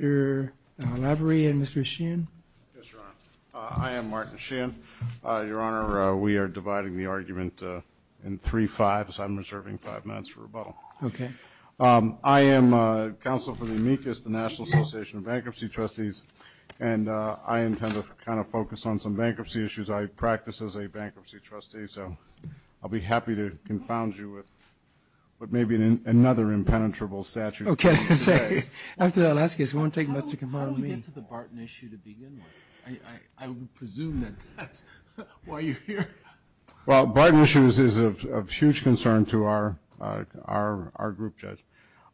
Mr. Lavery and Mr. Sheehan. Yes, Your Honor. I am Martin Sheehan. Your Honor, we are dividing the argument in three fives. I'm reserving five minutes for rebuttal. Okay. I am counsel for the amicus, the National Association of Bankruptcy Trustees, and I intend to kind of focus on some bankruptcy issues. I practice as a bankruptcy trustee, so I'll be happy to confound you with maybe another impenetrable statute. Okay. After that last case, it won't take much to confound me. How do we get to the Barton issue to begin with? I would presume that that's why you're here. Well, the Barton issue is of huge concern to our group, Judge.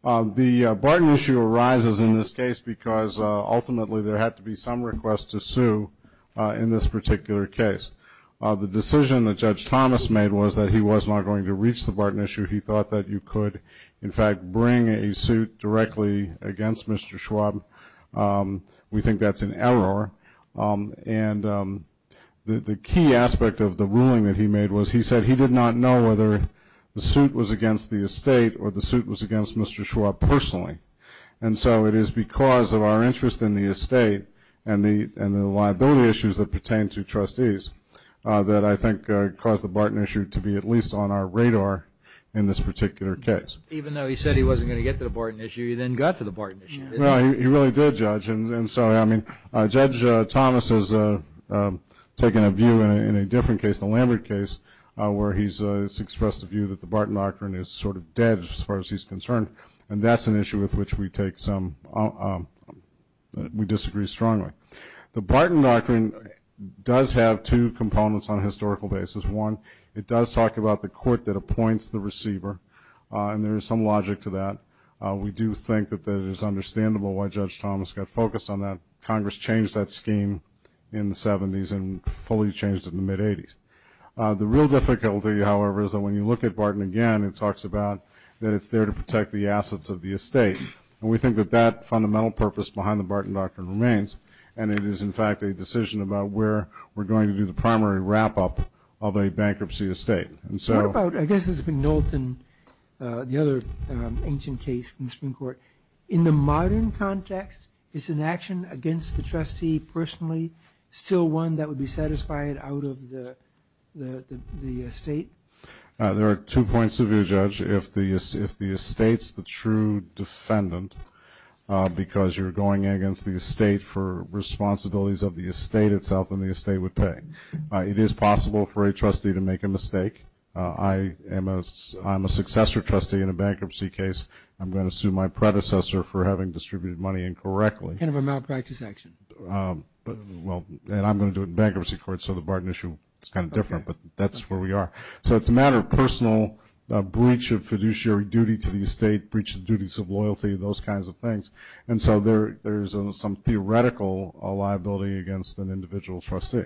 The Barton issue arises in this case because ultimately there had to be some request to sue in this particular case. The decision that Judge Thomas made was that he was not going to reach the Barton issue. He thought that you could, in fact, bring a suit directly against Mr. Schwab. We think that's an error. And the key aspect of the ruling that he made was he said he did not know whether the suit was against the estate or the suit was against Mr. Schwab personally. And so it is because of our interest in the estate and the liability issues that pertain to trustees that I think caused the Barton issue to be at least on our radar in this particular case. Even though he said he wasn't going to get to the Barton issue, he then got to the Barton issue, didn't he? Well, he really did, Judge. And so, I mean, Judge Thomas has taken a view in a different case, the Lambert case, where he's expressed a view that the Barton doctrine is sort of dead as far as he's concerned. And that's an issue with which we take some – we disagree strongly. The Barton doctrine does have two components on a historical basis. One, it does talk about the court that appoints the receiver, and there is some logic to that. We do think that it is understandable why Judge Thomas got focused on that. Congress changed that scheme in the 70s and fully changed it in the mid-80s. The real difficulty, however, is that when you look at Barton again, it talks about that it's there to protect the assets of the estate. And we think that that fundamental purpose behind the Barton doctrine remains. And it is, in fact, a decision about where we're going to do the primary wrap-up of a bankruptcy estate. And so – What about – I guess this is McNultyn, the other ancient case from the Supreme Court. In the modern context, is an action against the trustee personally still one that would be satisfied out of the estate? There are two points of view, Judge. If the estate's the true defendant because you're going against the estate for responsibilities of the estate itself, then the estate would pay. It is possible for a trustee to make a mistake. I am a successor trustee in a bankruptcy case. I'm going to sue my predecessor for having distributed money incorrectly. Kind of a malpractice action. Well, and I'm going to do it in bankruptcy court, so the Barton issue is kind of different, but that's where we are. So it's a matter of personal breach of fiduciary duty to the estate, breach of duties of loyalty, those kinds of things. And so there is some theoretical liability against an individual trustee.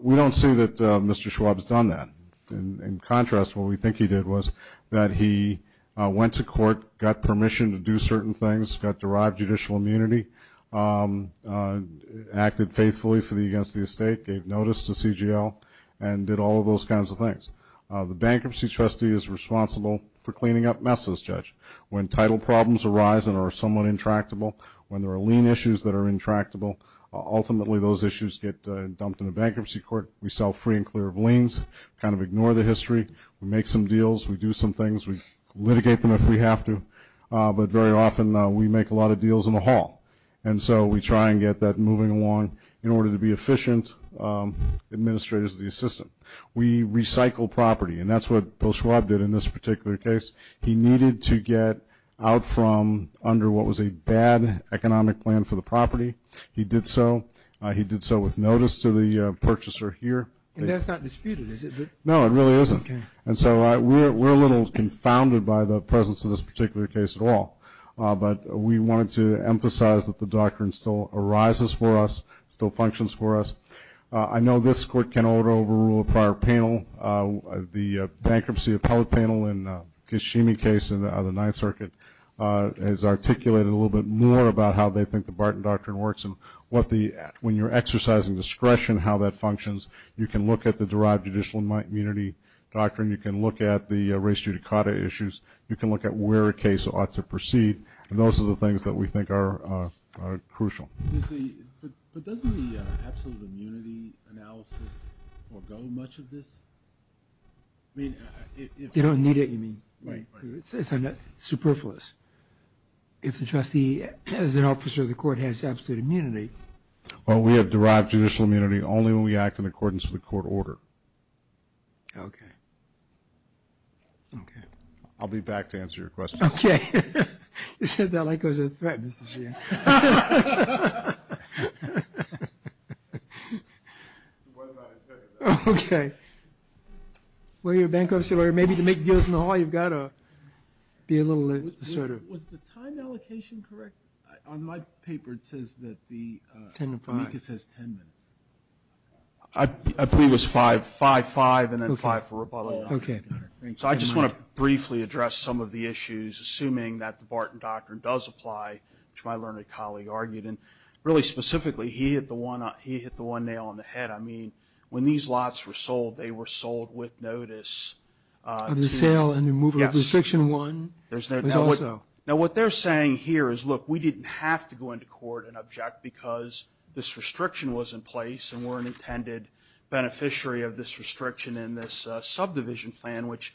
We don't see that Mr. Schwab has done that. In contrast, what we think he did was that he went to court, got permission to do certain things, got derived judicial immunity, acted faithfully against the estate, gave notice to CGL, and did all of those kinds of things. The bankruptcy trustee is responsible for cleaning up messes, Judge. When title problems arise and are somewhat intractable, when there are lien issues that are intractable, ultimately those issues get dumped in the bankruptcy court. We sell free and clear of liens, kind of ignore the history. We make some deals. We do some things. We litigate them if we have to. But very often we make a lot of deals in the hall. And so we try and get that moving along in order to be efficient administrators of the system. We recycle property, and that's what Bill Schwab did in this particular case. He needed to get out from under what was a bad economic plan for the property. He did so. He did so with notice to the purchaser here. And that's not disputed, is it? No, it really isn't. And so we're a little confounded by the presence of this particular case at all. But we wanted to emphasize that the doctrine still arises for us, still functions for us. I know this court can overrule a prior panel. The bankruptcy appellate panel in the Kashimi case in the Ninth Circuit has articulated a little bit more about how they think the Barton Doctrine works and when you're exercising discretion, how that functions. You can look at the derived judicial immunity doctrine. You can look at the race judicata issues. You can look at where a case ought to proceed. And those are the things that we think are crucial. But doesn't the absolute immunity analysis forego much of this? You don't need it, you mean? Right. It's superfluous. If the trustee as an officer of the court has absolute immunity. Well, we have derived judicial immunity only when we act in accordance with the court order. Okay. Okay. I'll be back to answer your questions. Okay. You said that like it was a threat, Mr. Sheehan. It was not a threat, though. Okay. When you're a bankruptcy lawyer, maybe to make deals in the hall, you've got to be a little assertive. Was the time allocation correct? On my paper, it says that the 10 minutes. For me, it says 10 minutes. I believe it was five. Five, five, and then five for rebuttal. Okay. So I just want to briefly address some of the issues, assuming that the Barton Doctrine does apply, which my learned colleague argued. And really specifically, he hit the one nail on the head. I mean, when these lots were sold, they were sold with notice. Of the sale and removal of restriction one. Now, what they're saying here is, look, we didn't have to go into court and object because this restriction was in place and we're an intended beneficiary of this restriction and this subdivision plan, which,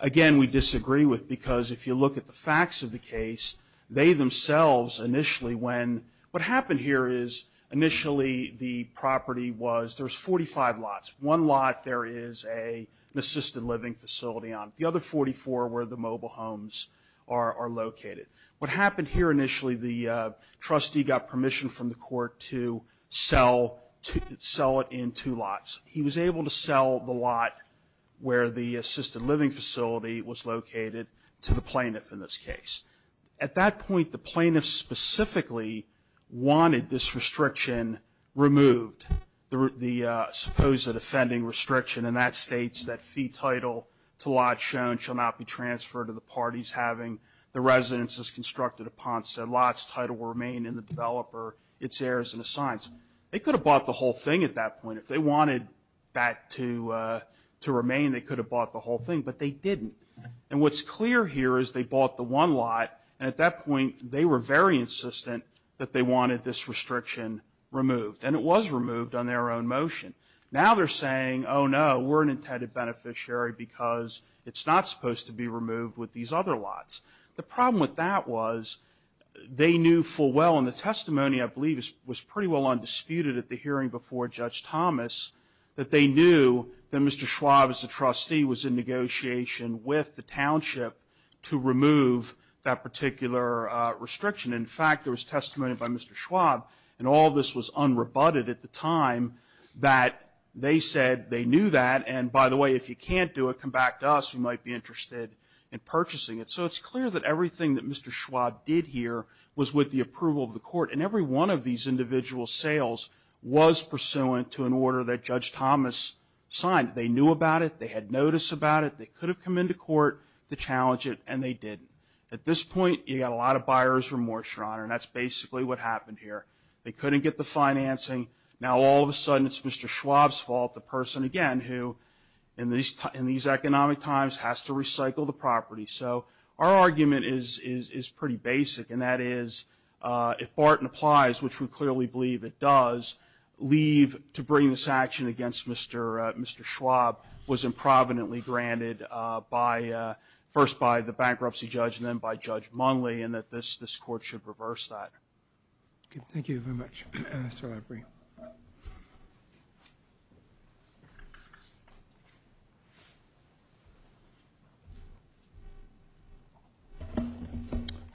again, we disagree with. Because if you look at the facts of the case, they themselves initially when what happened here is, initially the property was, there was 45 lots. One lot there is an assisted living facility on it. The other 44 were the mobile homes are located. What happened here initially, the trustee got permission from the court to sell it in two lots. He was able to sell the lot where the assisted living facility was located to the plaintiff in this case. At that point, the plaintiff specifically wanted this restriction removed, the supposed offending restriction. And that states that fee title to lot shown shall not be transferred to the parties having the residence as constructed upon said lot's title will remain in the developer, its heirs and assigns. They could have bought the whole thing at that point. If they wanted that to remain, they could have bought the whole thing. But they didn't. And what's clear here is they bought the one lot. And at that point, they were very insistent that they wanted this restriction removed. And it was removed on their own motion. Now they're saying, oh, no, we're an intended beneficiary because it's not supposed to be removed with these other lots. The problem with that was they knew full well, and the testimony, I believe, was pretty well undisputed at the hearing before Judge Thomas, that they knew that Mr. Schwab as a trustee was in negotiation with the township to remove that particular restriction. In fact, there was testimony by Mr. Schwab, and all this was unrebutted at the time, that they said they knew that. And by the way, if you can't do it, come back to us. We might be interested in purchasing it. So it's clear that everything that Mr. Schwab did here was with the approval of the court. And every one of these individual sales was pursuant to an order that Judge Thomas signed. They knew about it. They had notice about it. They could have come into court to challenge it, and they didn't. At this point, you've got a lot of buyer's remorse, Your Honor. And that's basically what happened here. They couldn't get the financing. Now, all of a sudden, it's Mr. Schwab's fault, the person, again, who in these economic times has to recycle the property. So our argument is pretty basic, and that is if Barton applies, which we clearly believe it does, leave to bring this action against Mr. Schwab was improvidently granted by the bankruptcy judge and then by Judge Munley, and that this Court should reverse that. Thank you very much. That's all I bring.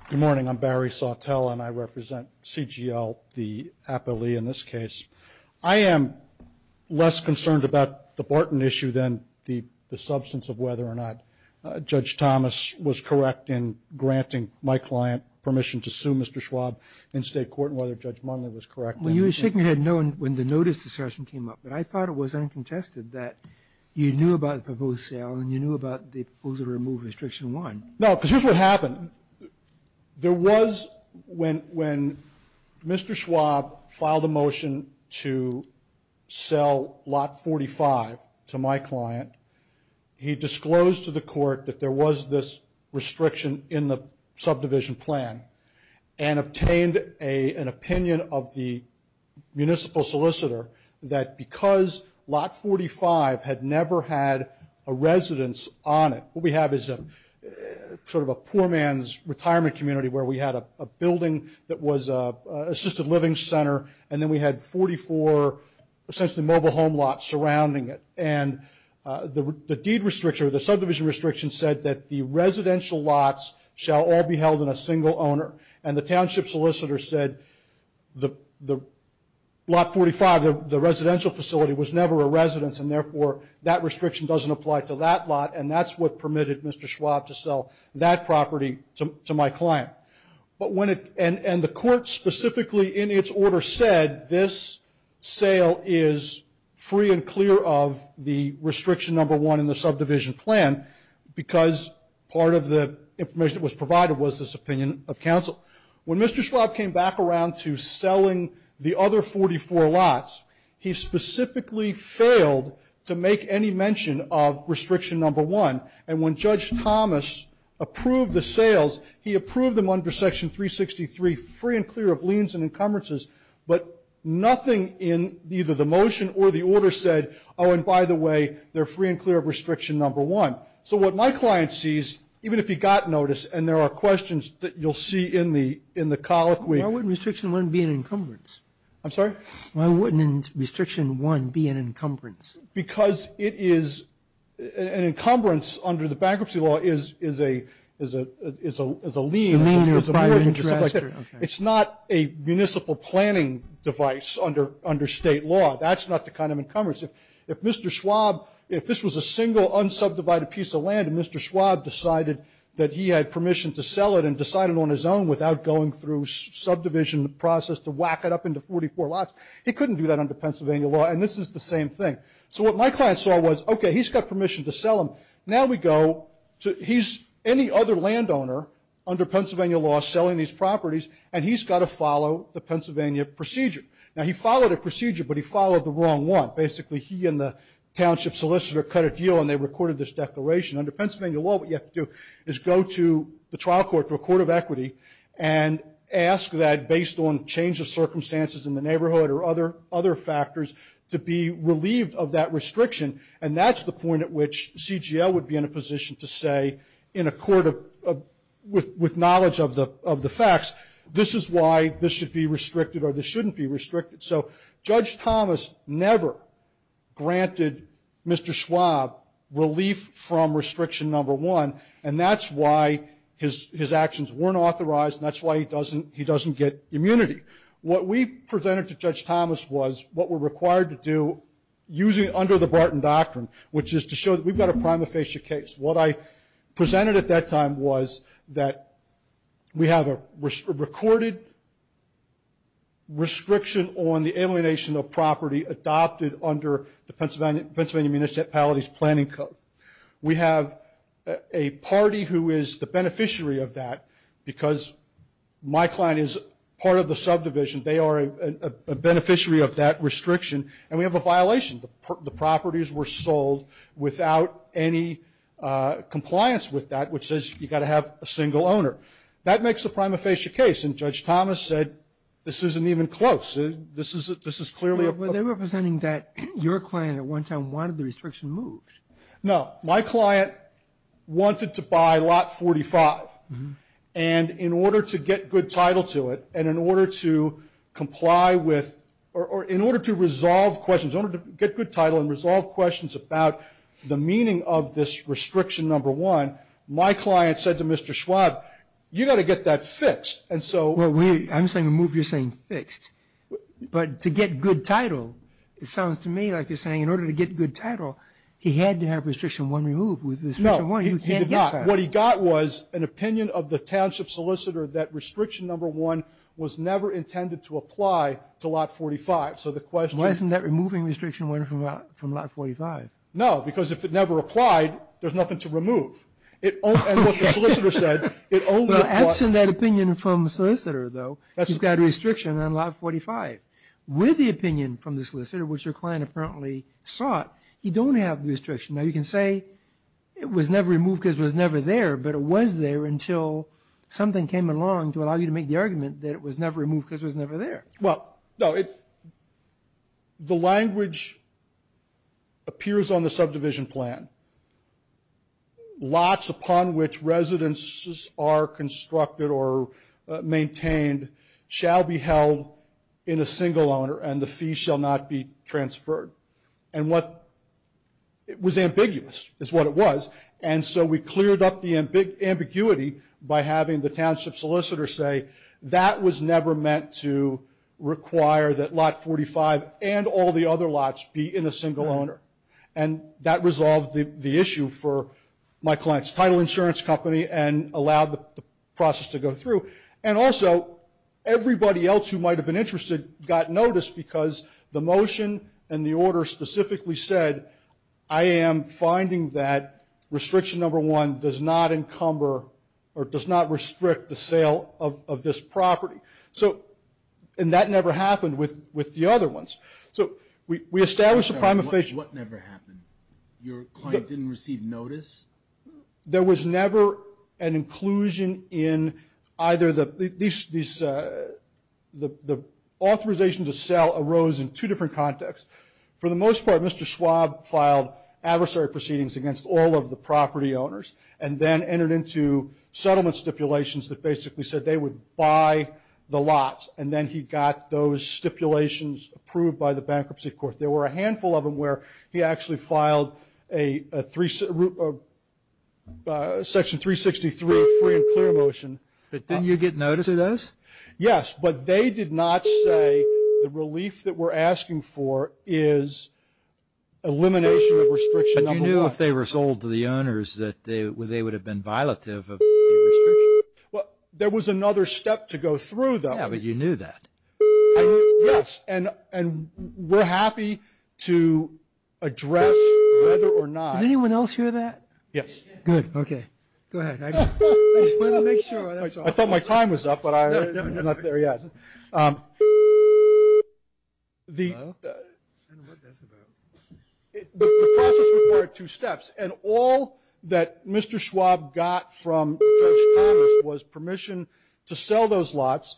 Good morning. I'm Barry Sawtelle, and I represent CGL, the appellee in this case. I am less concerned about the Barton issue than the substance of whether or not Judge Thomas was correct in granting my client permission to sue Mr. Schwab in State court and whether Judge Munley was correct. Well, you were shaking your head no when the notice discussion came up, but I thought it was uncontested that you knew about the proposed sale and you knew about the proposal to remove Restriction 1. No, because here's what happened. There was, when Mr. Schwab filed a motion to sell Lot 45 to my client, he disclosed to the court that there was this restriction in the subdivision plan and obtained an opinion of the municipal solicitor that because Lot 45 had never had a residence on it, what we have is sort of a poor man's retirement community where we had a building that was an assisted living center, and then we had 44 essentially mobile home lots surrounding it, and the deed restriction or the subdivision restriction said that the residential lots shall all be held in a single owner, and the township solicitor said Lot 45, the residential facility, was never a residence, and therefore that restriction doesn't apply to that lot, and that's what permitted Mr. Schwab to sell that property to my client. And the court specifically in its order said this sale is free and clear of the Restriction 1 in the subdivision plan because part of the information that was provided was this opinion of counsel. When Mr. Schwab came back around to selling the other 44 lots, he specifically failed to make any mention of Restriction 1, and when Judge Thomas approved the sales, he approved them under Section 363, free and clear of liens and encumbrances, but nothing in either the motion or the order said, oh, and by the way, they're free and clear of Restriction 1. So what my client sees, even if he got notice, and there are questions that you'll see in the colloquy. Why wouldn't Restriction 1 be an encumbrance? I'm sorry? Why wouldn't Restriction 1 be an encumbrance? Because it is an encumbrance under the bankruptcy law is a lien. It's not a municipal planning device under State law. That's not the kind of encumbrance. If Mr. Schwab, if this was a single unsubdivided piece of land and Mr. Schwab decided that he had permission to sell it and decided on his own without going through subdivision process to whack it up into 44 lots, he couldn't do that under Pennsylvania law, and this is the same thing. So what my client saw was, okay, he's got permission to sell them. Now we go to, he's any other landowner under Pennsylvania law selling these properties, and he's got to follow the Pennsylvania procedure. Now, he followed a procedure, but he followed the wrong one. Basically, he and the township solicitor cut a deal, and they recorded this declaration. Under Pennsylvania law, what you have to do is go to the trial court, to a court of equity, and ask that, based on change of circumstances in the neighborhood or other factors, to be relieved of that restriction, and that's the point at which CGL would be in a position to say, in a court of, with knowledge of the facts, this is why this should be restricted or this shouldn't be restricted. So Judge Thomas never granted Mr. Schwab relief from restriction number one, and that's why his actions weren't authorized, and that's why he doesn't get immunity. What we presented to Judge Thomas was what we're required to do under the Barton Doctrine, which is to show that we've got a prima facie case. What I presented at that time was that we have a recorded restriction on the alienation of property adopted under the Pennsylvania Municipalities Planning Code. We have a party who is the beneficiary of that, because my client is part of the subdivision. They are a beneficiary of that restriction, and we have a violation. The properties were sold without any compliance with that, which says you've got to have a single owner. That makes the prima facie case, and Judge Thomas said this isn't even close. This is clearly a ---- So they're representing that your client at one time wanted the restriction moved. No. My client wanted to buy lot 45, and in order to get good title to it and in order to comply with or in order to resolve questions, in order to get good title and resolve questions about the meaning of this restriction number one, my client said to Mr. Schwab, you've got to get that fixed. And so ---- I'm saying removed, you're saying fixed. But to get good title, it sounds to me like you're saying in order to get good title, he had to have restriction one removed. No. What he got was an opinion of the township solicitor that restriction number one was never intended to apply to lot 45. So the question ---- Wasn't that removing restriction one from lot 45? No, because if it never applied, there's nothing to remove. And what the solicitor said, it only ---- Absent that opinion from the solicitor, though, you've got restriction on lot 45. With the opinion from the solicitor, which your client apparently sought, you don't have restriction. Now, you can say it was never removed because it was never there, but it was there until something came along to allow you to make the argument that it was never removed because it was never there. Well, no. The language appears on the subdivision plan. Lots upon which residences are constructed or maintained shall be held in a single owner and the fees shall not be transferred. And what was ambiguous is what it was. And so we cleared up the ambiguity by having the township solicitor say that was never meant to require that lot 45 and all the other lots be in a single owner. And that resolved the issue for my client's title insurance company and allowed the process to go through. And also, everybody else who might have been interested got notice because the motion and the order specifically said I am finding that restriction number one does not encumber or does not restrict the sale of this property. And that never happened with the other ones. So we established a prima facie. What never happened? Your client didn't receive notice? There was never an inclusion in either the authorization to sell arose in two different contexts. For the most part, Mr. Schwab filed adversary proceedings against all of the property owners and then entered into settlement stipulations that basically said they would buy the lots. And then he got those stipulations approved by the bankruptcy court. There were a handful of them where he actually filed a section 363 free and clear motion. But didn't you get notice of those? Yes, but they did not say the relief that we're asking for is elimination of restriction number one. But you knew if they were sold to the owners that they would have been violative of the restriction? Well, there was another step to go through, though. Yeah, but you knew that. Yes, and we're happy to address whether or not. Does anyone else hear that? Yes. Good. Okay. Go ahead. I just wanted to make sure. I thought my time was up, but I'm not there yet. The process required two steps. And all that Mr. Schwab got from Dutch Commerce was permission to sell those lots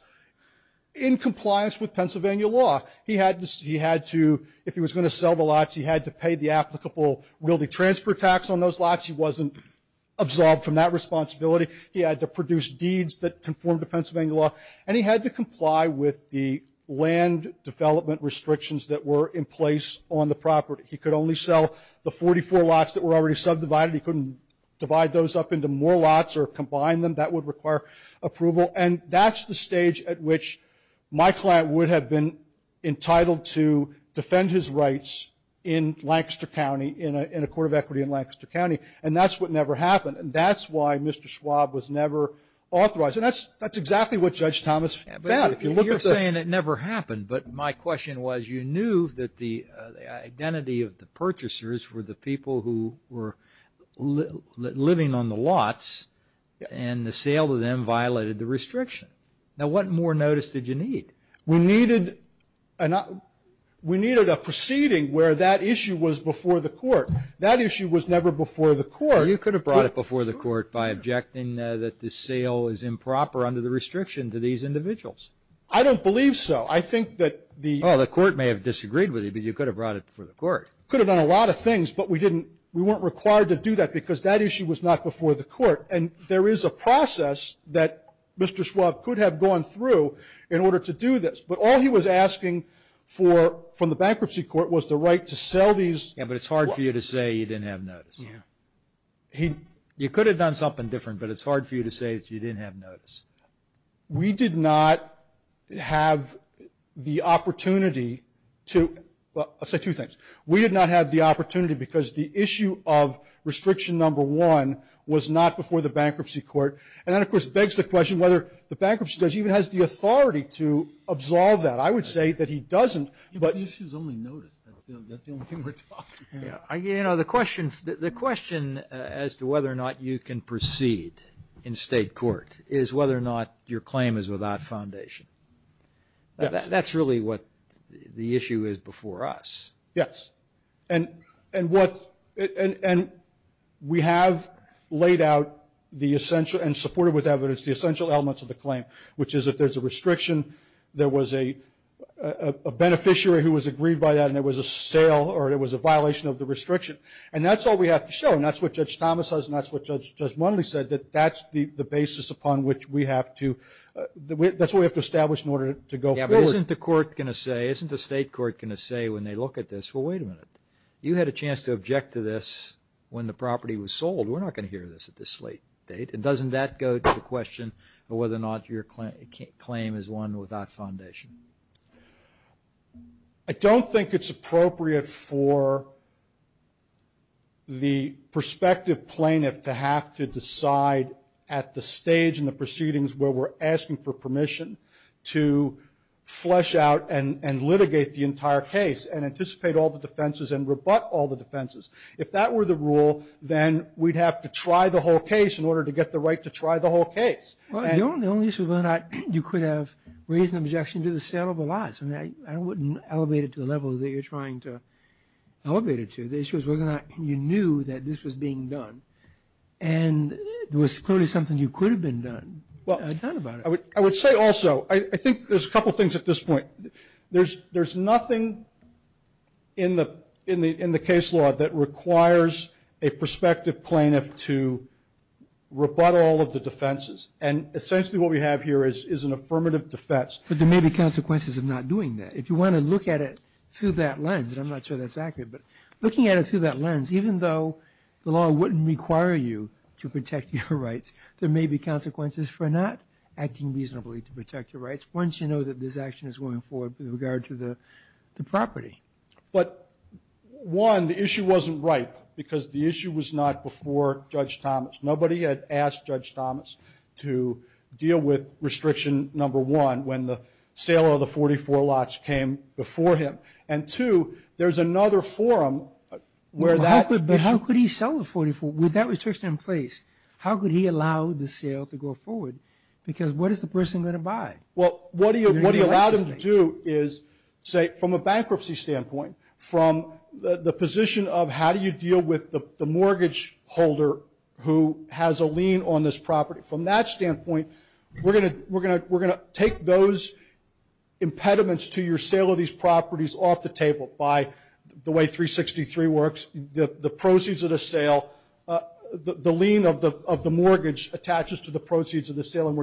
in compliance with Pennsylvania law. He had to, if he was going to sell the lots, he had to pay the applicable wielding transfer tax on those lots. He wasn't absolved from that responsibility. He had to produce deeds that conformed to Pennsylvania law. And he had to comply with the land development restrictions that were in place on the property. He could only sell the 44 lots that were already subdivided. He couldn't divide those up into more lots or combine them. That would require approval. And that's the stage at which my client would have been entitled to defend his rights in Lancaster County, in a court of equity in Lancaster County. And that's what never happened. And that's why Mr. Schwab was never authorized. And that's exactly what Judge Thomas found. You're saying it never happened, but my question was, you knew that the identity of the purchasers were the people who were living on the lots, and the sale to them violated the restriction. Now, what more notice did you need? We needed a proceeding where that issue was before the court. That issue was never before the court. Well, you could have brought it before the court by objecting that the sale is improper under the restriction to these individuals. I don't believe so. I think that the — Well, the court may have disagreed with you, but you could have brought it before the court. Could have done a lot of things, but we didn't. We weren't required to do that because that issue was not before the court. And there is a process that Mr. Schwab could have gone through in order to do this. But all he was asking for from the bankruptcy court was the right to sell these — Yeah, but it's hard for you to say you didn't have notice. Yeah. You could have done something different, but it's hard for you to say that you didn't have notice. We did not have the opportunity to — well, I'll say two things. We did not have the opportunity because the issue of restriction number one was not before the bankruptcy court. And that, of course, begs the question whether the bankruptcy judge even has the authority to absolve that. I would say that he doesn't, but — The issue is only notice. That's the only thing we're talking about. You know, the question as to whether or not you can proceed in state court is whether or not your claim is without foundation. That's really what the issue is before us. Yes. And we have laid out the essential and supported with evidence the essential elements of the claim, which is that there's a restriction, there was a beneficiary who was aggrieved by that, and it was a sale or it was a violation of the restriction. And that's all we have to show, and that's what Judge Thomas says, and that's what Judge Munley said, that that's the basis upon which we have to — that's what we have to establish in order to go forward. Yeah, but isn't the court going to say, isn't the state court going to say when they look at this, well, wait a minute, you had a chance to object to this when the property was sold. We're not going to hear this at this late date. And doesn't that go to the question of whether or not your claim is one without foundation? I don't think it's appropriate for the prospective plaintiff to have to decide at the stage in the proceedings where we're asking for permission to flesh out and litigate the entire case and anticipate all the defenses and rebut all the defenses. If that were the rule, then we'd have to try the whole case in order to get the right to try the whole case. Well, the only issue is whether or not you could have raised an objection to the sale of the lots. I mean, I wouldn't elevate it to the level that you're trying to elevate it to. The issue is whether or not you knew that this was being done, and there was clearly something you could have done about it. Well, I would say also, I think there's a couple things at this point. There's nothing in the case law that requires a prospective plaintiff to rebut all of the defenses, and essentially what we have here is an affirmative defense. But there may be consequences of not doing that. If you want to look at it through that lens, and I'm not sure that's accurate, but looking at it through that lens, even though the law wouldn't require you to protect your rights, there may be consequences for not acting reasonably to protect your rights once you know that this action is going forward with regard to the property. But, one, the issue wasn't ripe because the issue was not before Judge Thomas. Nobody had asked Judge Thomas to deal with restriction number one, when the sale of the 44 lots came before him. And, two, there's another forum where that. But how could he sell the 44? With that restriction in place, how could he allow the sale to go forward? Because what is the person going to buy? Well, what he allowed them to do is, say, from a bankruptcy standpoint, from the position of how do you deal with the mortgage holder who has a lien on this property. From that standpoint, we're going to take those impediments to your sale of these properties off the table by the way 363 works, the proceeds of the sale, the lien of the mortgage attaches to the proceeds of the sale, and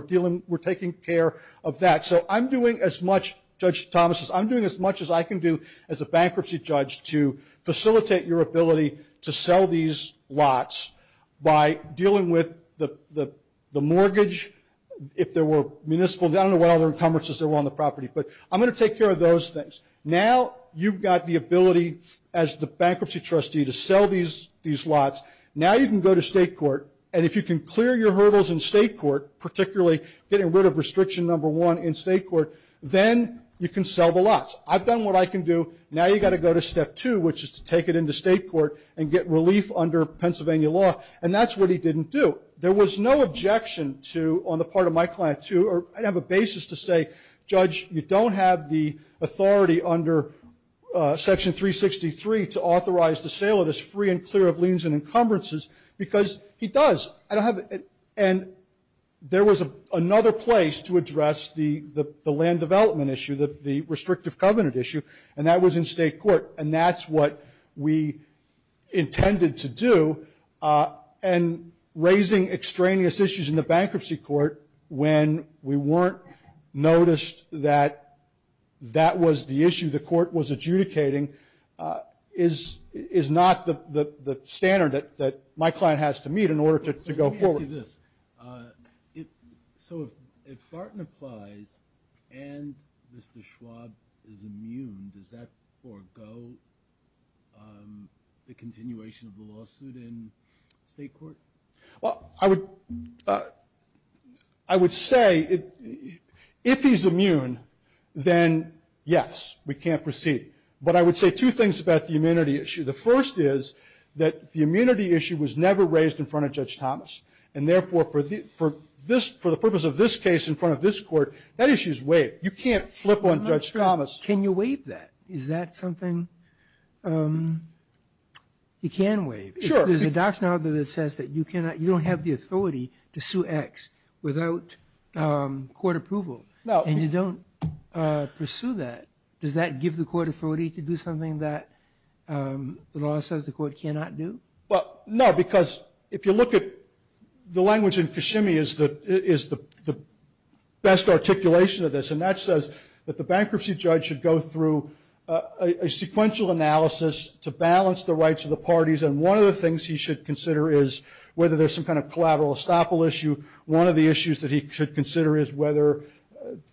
we're taking care of that. So I'm doing as much, Judge Thomas, I'm doing as much as I can do as a bankruptcy judge to facilitate your ability to sell these lots by dealing with the mortgage. If there were municipal, I don't know what other encumbrances there were on the property, but I'm going to take care of those things. Now you've got the ability as the bankruptcy trustee to sell these lots. Now you can go to state court, and if you can clear your hurdles in state court, particularly getting rid of restriction number one in state court, then you can sell the lots. I've done what I can do. Now you've got to go to step two, which is to take it into state court and get relief under Pennsylvania law, and that's what he didn't do. There was no objection to, on the part of my client, to, or I don't have a basis to say, Judge, you don't have the authority under section 363 to authorize the sale of this free and clear of liens and encumbrances because he does. And there was another place to address the land development issue, the restrictive covenant issue, and that was in state court, and that's what we intended to do. And raising extraneous issues in the bankruptcy court when we weren't noticed that that was the issue the court was adjudicating is not the standard that my client has to meet in order to go forward. Let me ask you this. So if Barton applies and Mr. Schwab is immune, does that forego the continuation of the lawsuit in state court? Well, I would say if he's immune, then yes, we can't proceed. But I would say two things about the immunity issue. The first is that the immunity issue was never raised in front of Judge Thomas, and therefore for the purpose of this case in front of this court, that issue is waived. You can't flip on Judge Thomas. Can you waive that? Is that something you can waive? Sure. If there's a doctrine out there that says that you don't have the authority to sue X without court approval and you don't pursue that, does that give the court authority to do something that the law says the court cannot do? Well, no, because if you look at the language in Kashimi is the best articulation of this, and that says that the bankruptcy judge should go through a sequential analysis to balance the rights of the parties, and one of the things he should consider is whether there's some kind of collateral estoppel issue. One of the issues that he should consider is whether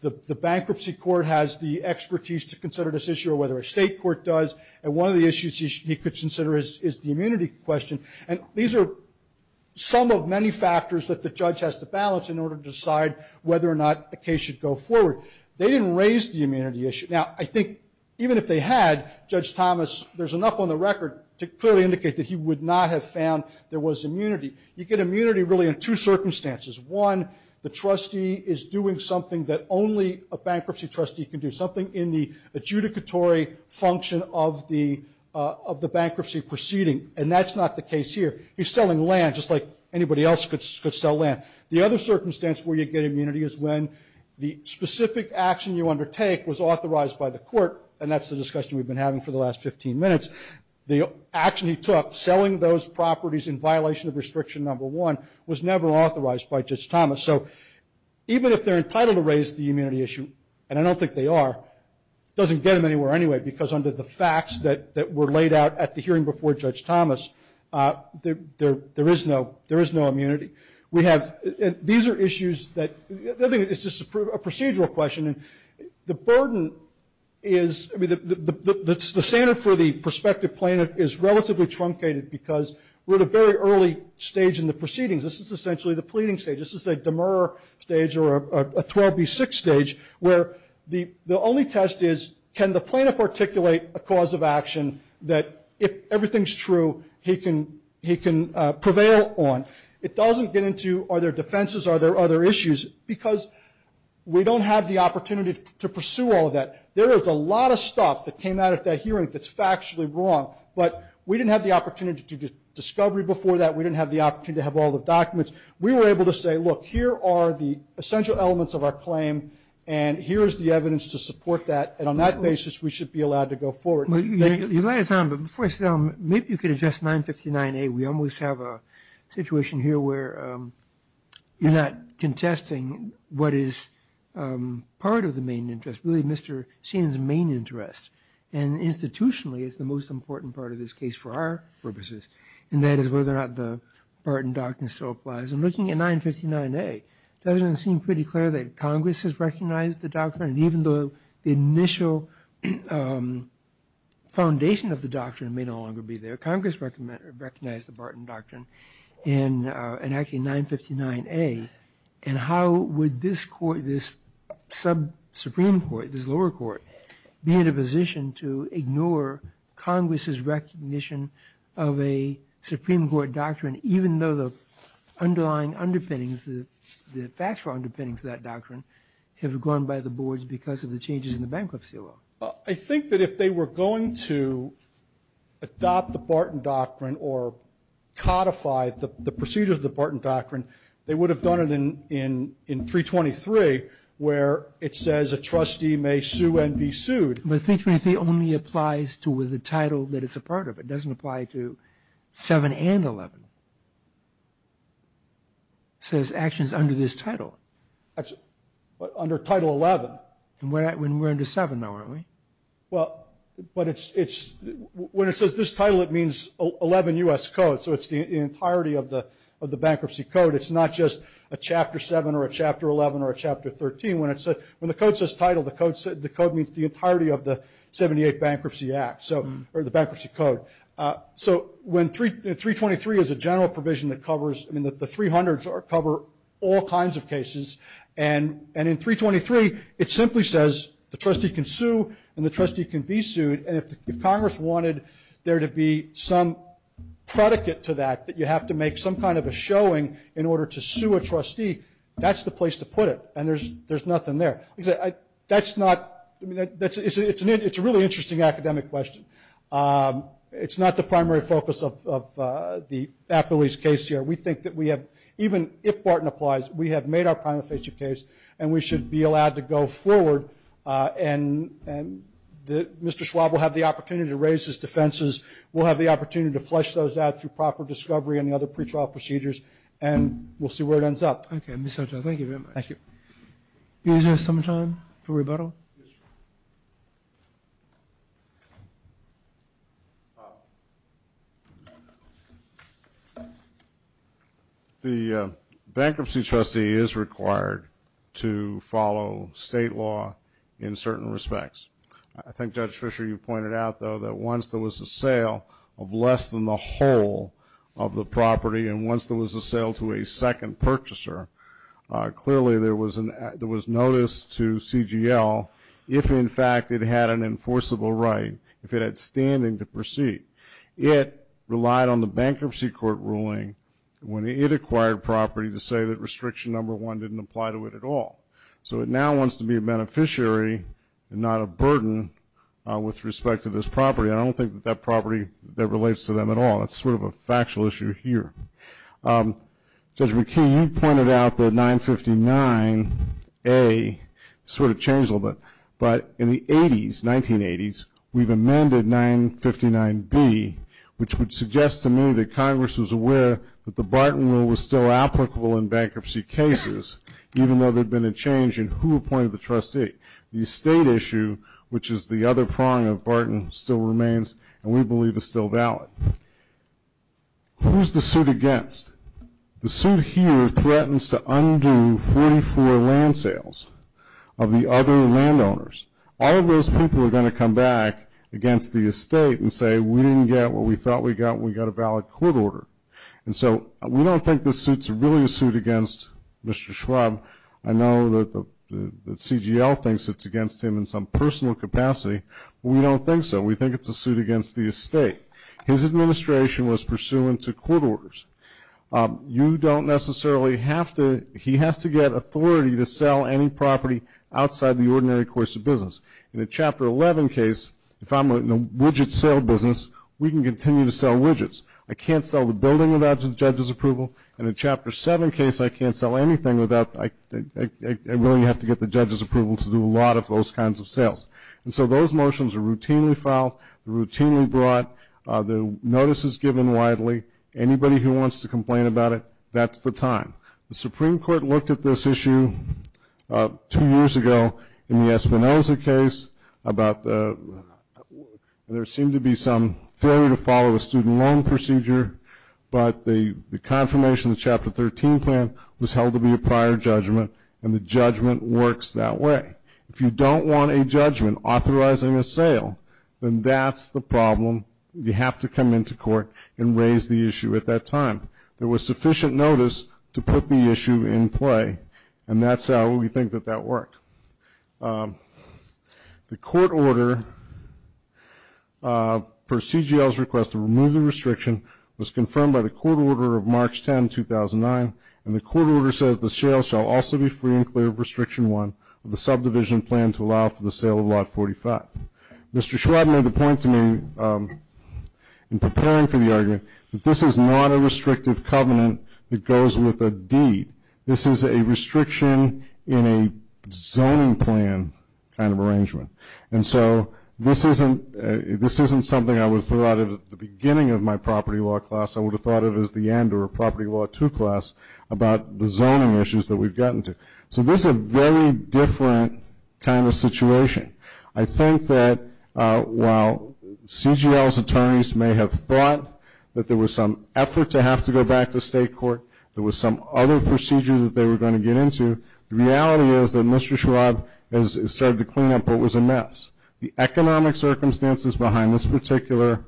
the bankruptcy court has the expertise to consider this issue or whether a state court does. And one of the issues he could consider is the immunity question. And these are some of many factors that the judge has to balance in order to decide whether or not a case should go forward. They didn't raise the immunity issue. Now, I think even if they had, Judge Thomas, there's enough on the record to clearly indicate that he would not have found there was immunity. You get immunity really in two circumstances. One, the trustee is doing something that only a bankruptcy trustee can do, something in the adjudicatory function of the bankruptcy proceeding, and that's not the case here. He's selling land just like anybody else could sell land. The other circumstance where you get immunity is when the specific action you undertake was authorized by the court, and that's the discussion we've been having for the last 15 minutes. The action he took, selling those properties in violation of restriction number one, was never authorized by Judge Thomas. So even if they're entitled to raise the immunity issue, and I don't think they are, it doesn't get them anywhere anyway because under the facts that were laid out at the hearing before Judge Thomas, there is no immunity. We have – these are issues that – I think it's just a procedural question. The burden is – I mean, the standard for the prospective plaintiff is relatively truncated because we're at a very early stage in the proceedings. This is essentially the pleading stage. This is a demeurer stage or a 12B6 stage where the only test is can the plaintiff articulate a cause of action that if everything's true, he can prevail on. It doesn't get into are there defenses, are there other issues, because we don't have the opportunity to pursue all of that. There is a lot of stuff that came out at that hearing that's factually wrong, but we didn't have the opportunity to do discovery before that. We didn't have the opportunity to have all the documents. We were able to say, look, here are the essential elements of our claim, and here is the evidence to support that, and on that basis, we should be allowed to go forward. Well, you lay it down, but before I say that, maybe you could address 959A. We almost have a situation here where you're not contesting what is part of the main interest, really Mr. Sheen's main interest, and institutionally, it's the most important part of this case for our purposes, and that is whether or not the Barton Doctrine still applies. And looking at 959A, it doesn't seem pretty clear that Congress has recognized the doctrine, and even though the initial foundation of the doctrine may no longer be there, Congress recognized the Barton Doctrine in actually 959A, and how would this Supreme Court, this lower court, be in a position to ignore Congress's recognition of a Supreme Court doctrine, even though the underlying underpinnings, the factual underpinnings of that doctrine, have gone by the boards because of the changes in the bankruptcy law? I think that if they were going to adopt the Barton Doctrine or codify the procedures of the Barton Doctrine, they would have done it in 323 where it says a trustee may sue and be sued. But 323 only applies to the title that it's a part of. It doesn't apply to 7 and 11. It says actions under this title. Under Title 11. And we're under 7 now, aren't we? Well, when it says this title, it means 11 U.S. codes, so it's the entirety of the bankruptcy code. It's not just a Chapter 7 or a Chapter 11 or a Chapter 13. When the code says title, the code means the entirety of the 78 Bankruptcy Act, or the bankruptcy code. So 323 is a general provision that covers the 300s cover all kinds of cases, and in 323 it simply says the trustee can sue and the trustee can be sued, and if Congress wanted there to be some predicate to that, that you have to make some kind of a showing in order to sue a trustee, that's the place to put it, and there's nothing there. That's not, it's a really interesting academic question. It's not the primary focus of the Appellee's case here. We think that we have, even if Barton applies, we have made our prima facie case and we should be allowed to go forward, and Mr. Schwab will have the opportunity to raise his defenses. We'll have the opportunity to flesh those out through proper discovery and the other pretrial procedures, and we'll see where it ends up. Okay. Thank you very much. Thank you. Do you guys have some time for rebuttal? Yes, sir. The bankruptcy trustee is required to follow state law in certain respects. I think, Judge Fischer, you pointed out, though, that once there was a sale of less than the whole of the property and once there was a sale to a second purchaser, clearly there was notice to CGL if, in fact, it had an enforceable right, if it had standing to proceed. It relied on the bankruptcy court ruling when it acquired property to say that restriction number one didn't apply to it at all. So it now wants to be a beneficiary and not a burden with respect to this property. I don't think that that property relates to them at all. It's sort of a factual issue here. Judge McKee, you pointed out that 959A sort of changed a little bit. But in the 1980s, we've amended 959B, which would suggest to me that Congress was aware that the Barton Rule was still applicable in bankruptcy cases, even though there had been a change in who appointed the trustee. The estate issue, which is the other prong of Barton, still remains, and we believe it's still valid. Who's the suit against? The suit here threatens to undo 44 land sales of the other landowners. All of those people are going to come back against the estate and say, we didn't get what we thought we got, we got a valid court order. And so we don't think this suit's really a suit against Mr. Schwab. I know that CGL thinks it's against him in some personal capacity. We don't think so. We think it's a suit against the estate. His administration was pursuant to court orders. You don't necessarily have to he has to get authority to sell any property outside the ordinary course of business. In a Chapter 11 case, if I'm in a widget sale business, we can continue to sell widgets. I can't sell the building without a judge's approval. In a Chapter 7 case, I can't sell anything without I really have to get the judge's approval to do a lot of those kinds of sales. And so those motions are routinely filed, routinely brought. The notice is given widely. Anybody who wants to complain about it, that's the time. The Supreme Court looked at this issue two years ago in the Espinoza case. There seemed to be some failure to follow a student loan procedure, but the confirmation of the Chapter 13 plan was held to be a prior judgment, and the judgment works that way. If you don't want a judgment authorizing a sale, then that's the problem. You have to come into court and raise the issue at that time. There was sufficient notice to put the issue in play, and that's how we think that that worked. The court order per CGL's request to remove the restriction was confirmed by the court order of March 10, 2009, and the court order says the sale shall also be free and clear of Restriction 1 of the subdivision plan to allow for the sale of Lot 45. Mr. Schwab made the point to me in preparing for the argument that this is not a restrictive covenant that goes with a deed. This is a restriction in a zoning plan kind of arrangement. And so this isn't something I would have thought of at the beginning of my property law class. I would have thought of it as the end or a property law 2 class about the zoning issues that we've gotten to. So this is a very different kind of situation. I think that while CGL's attorneys may have thought that there was some effort to have to go back to state court, there was some other procedure that they were going to get into, the reality is that Mr. Schwab has started to clean up what was a mess. The economic circumstances behind this particular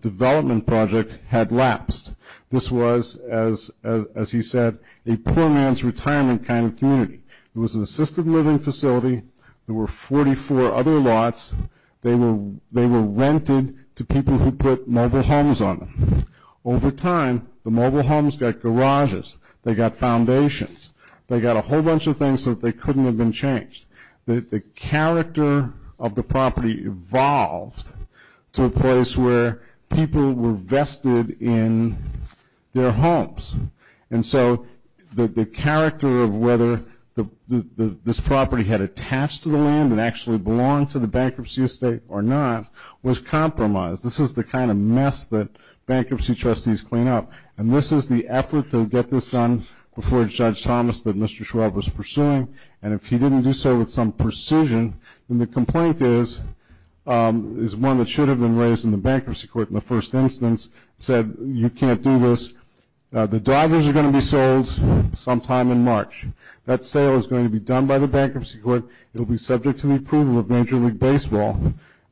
development project had lapsed. This was, as he said, a poor man's retirement kind of community. It was an assisted living facility. There were 44 other lots. They were rented to people who put mobile homes on them. Over time, the mobile homes got garages. They got foundations. They got a whole bunch of things so that they couldn't have been changed. The character of the property evolved to a place where people were vested in their homes. And so the character of whether this property had attached to the land and actually belonged to the bankruptcy estate or not was compromised. This is the kind of mess that bankruptcy trustees clean up. And this is the effort to get this done before Judge Thomas that Mr. Schwab was pursuing. And if he didn't do so with some precision, then the complaint is one that should have been raised in the bankruptcy court in the first instance, said you can't do this. The drivers are going to be sold sometime in March. That sale is going to be done by the bankruptcy court. It will be subject to the approval of Major League Baseball.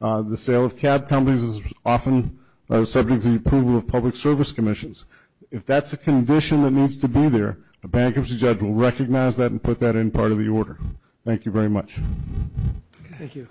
The sale of cab companies is often subject to the approval of public service commissions. If that's a condition that needs to be there, a bankruptcy judge will recognize that and put that in part of the order. Thank you very much. Thank you.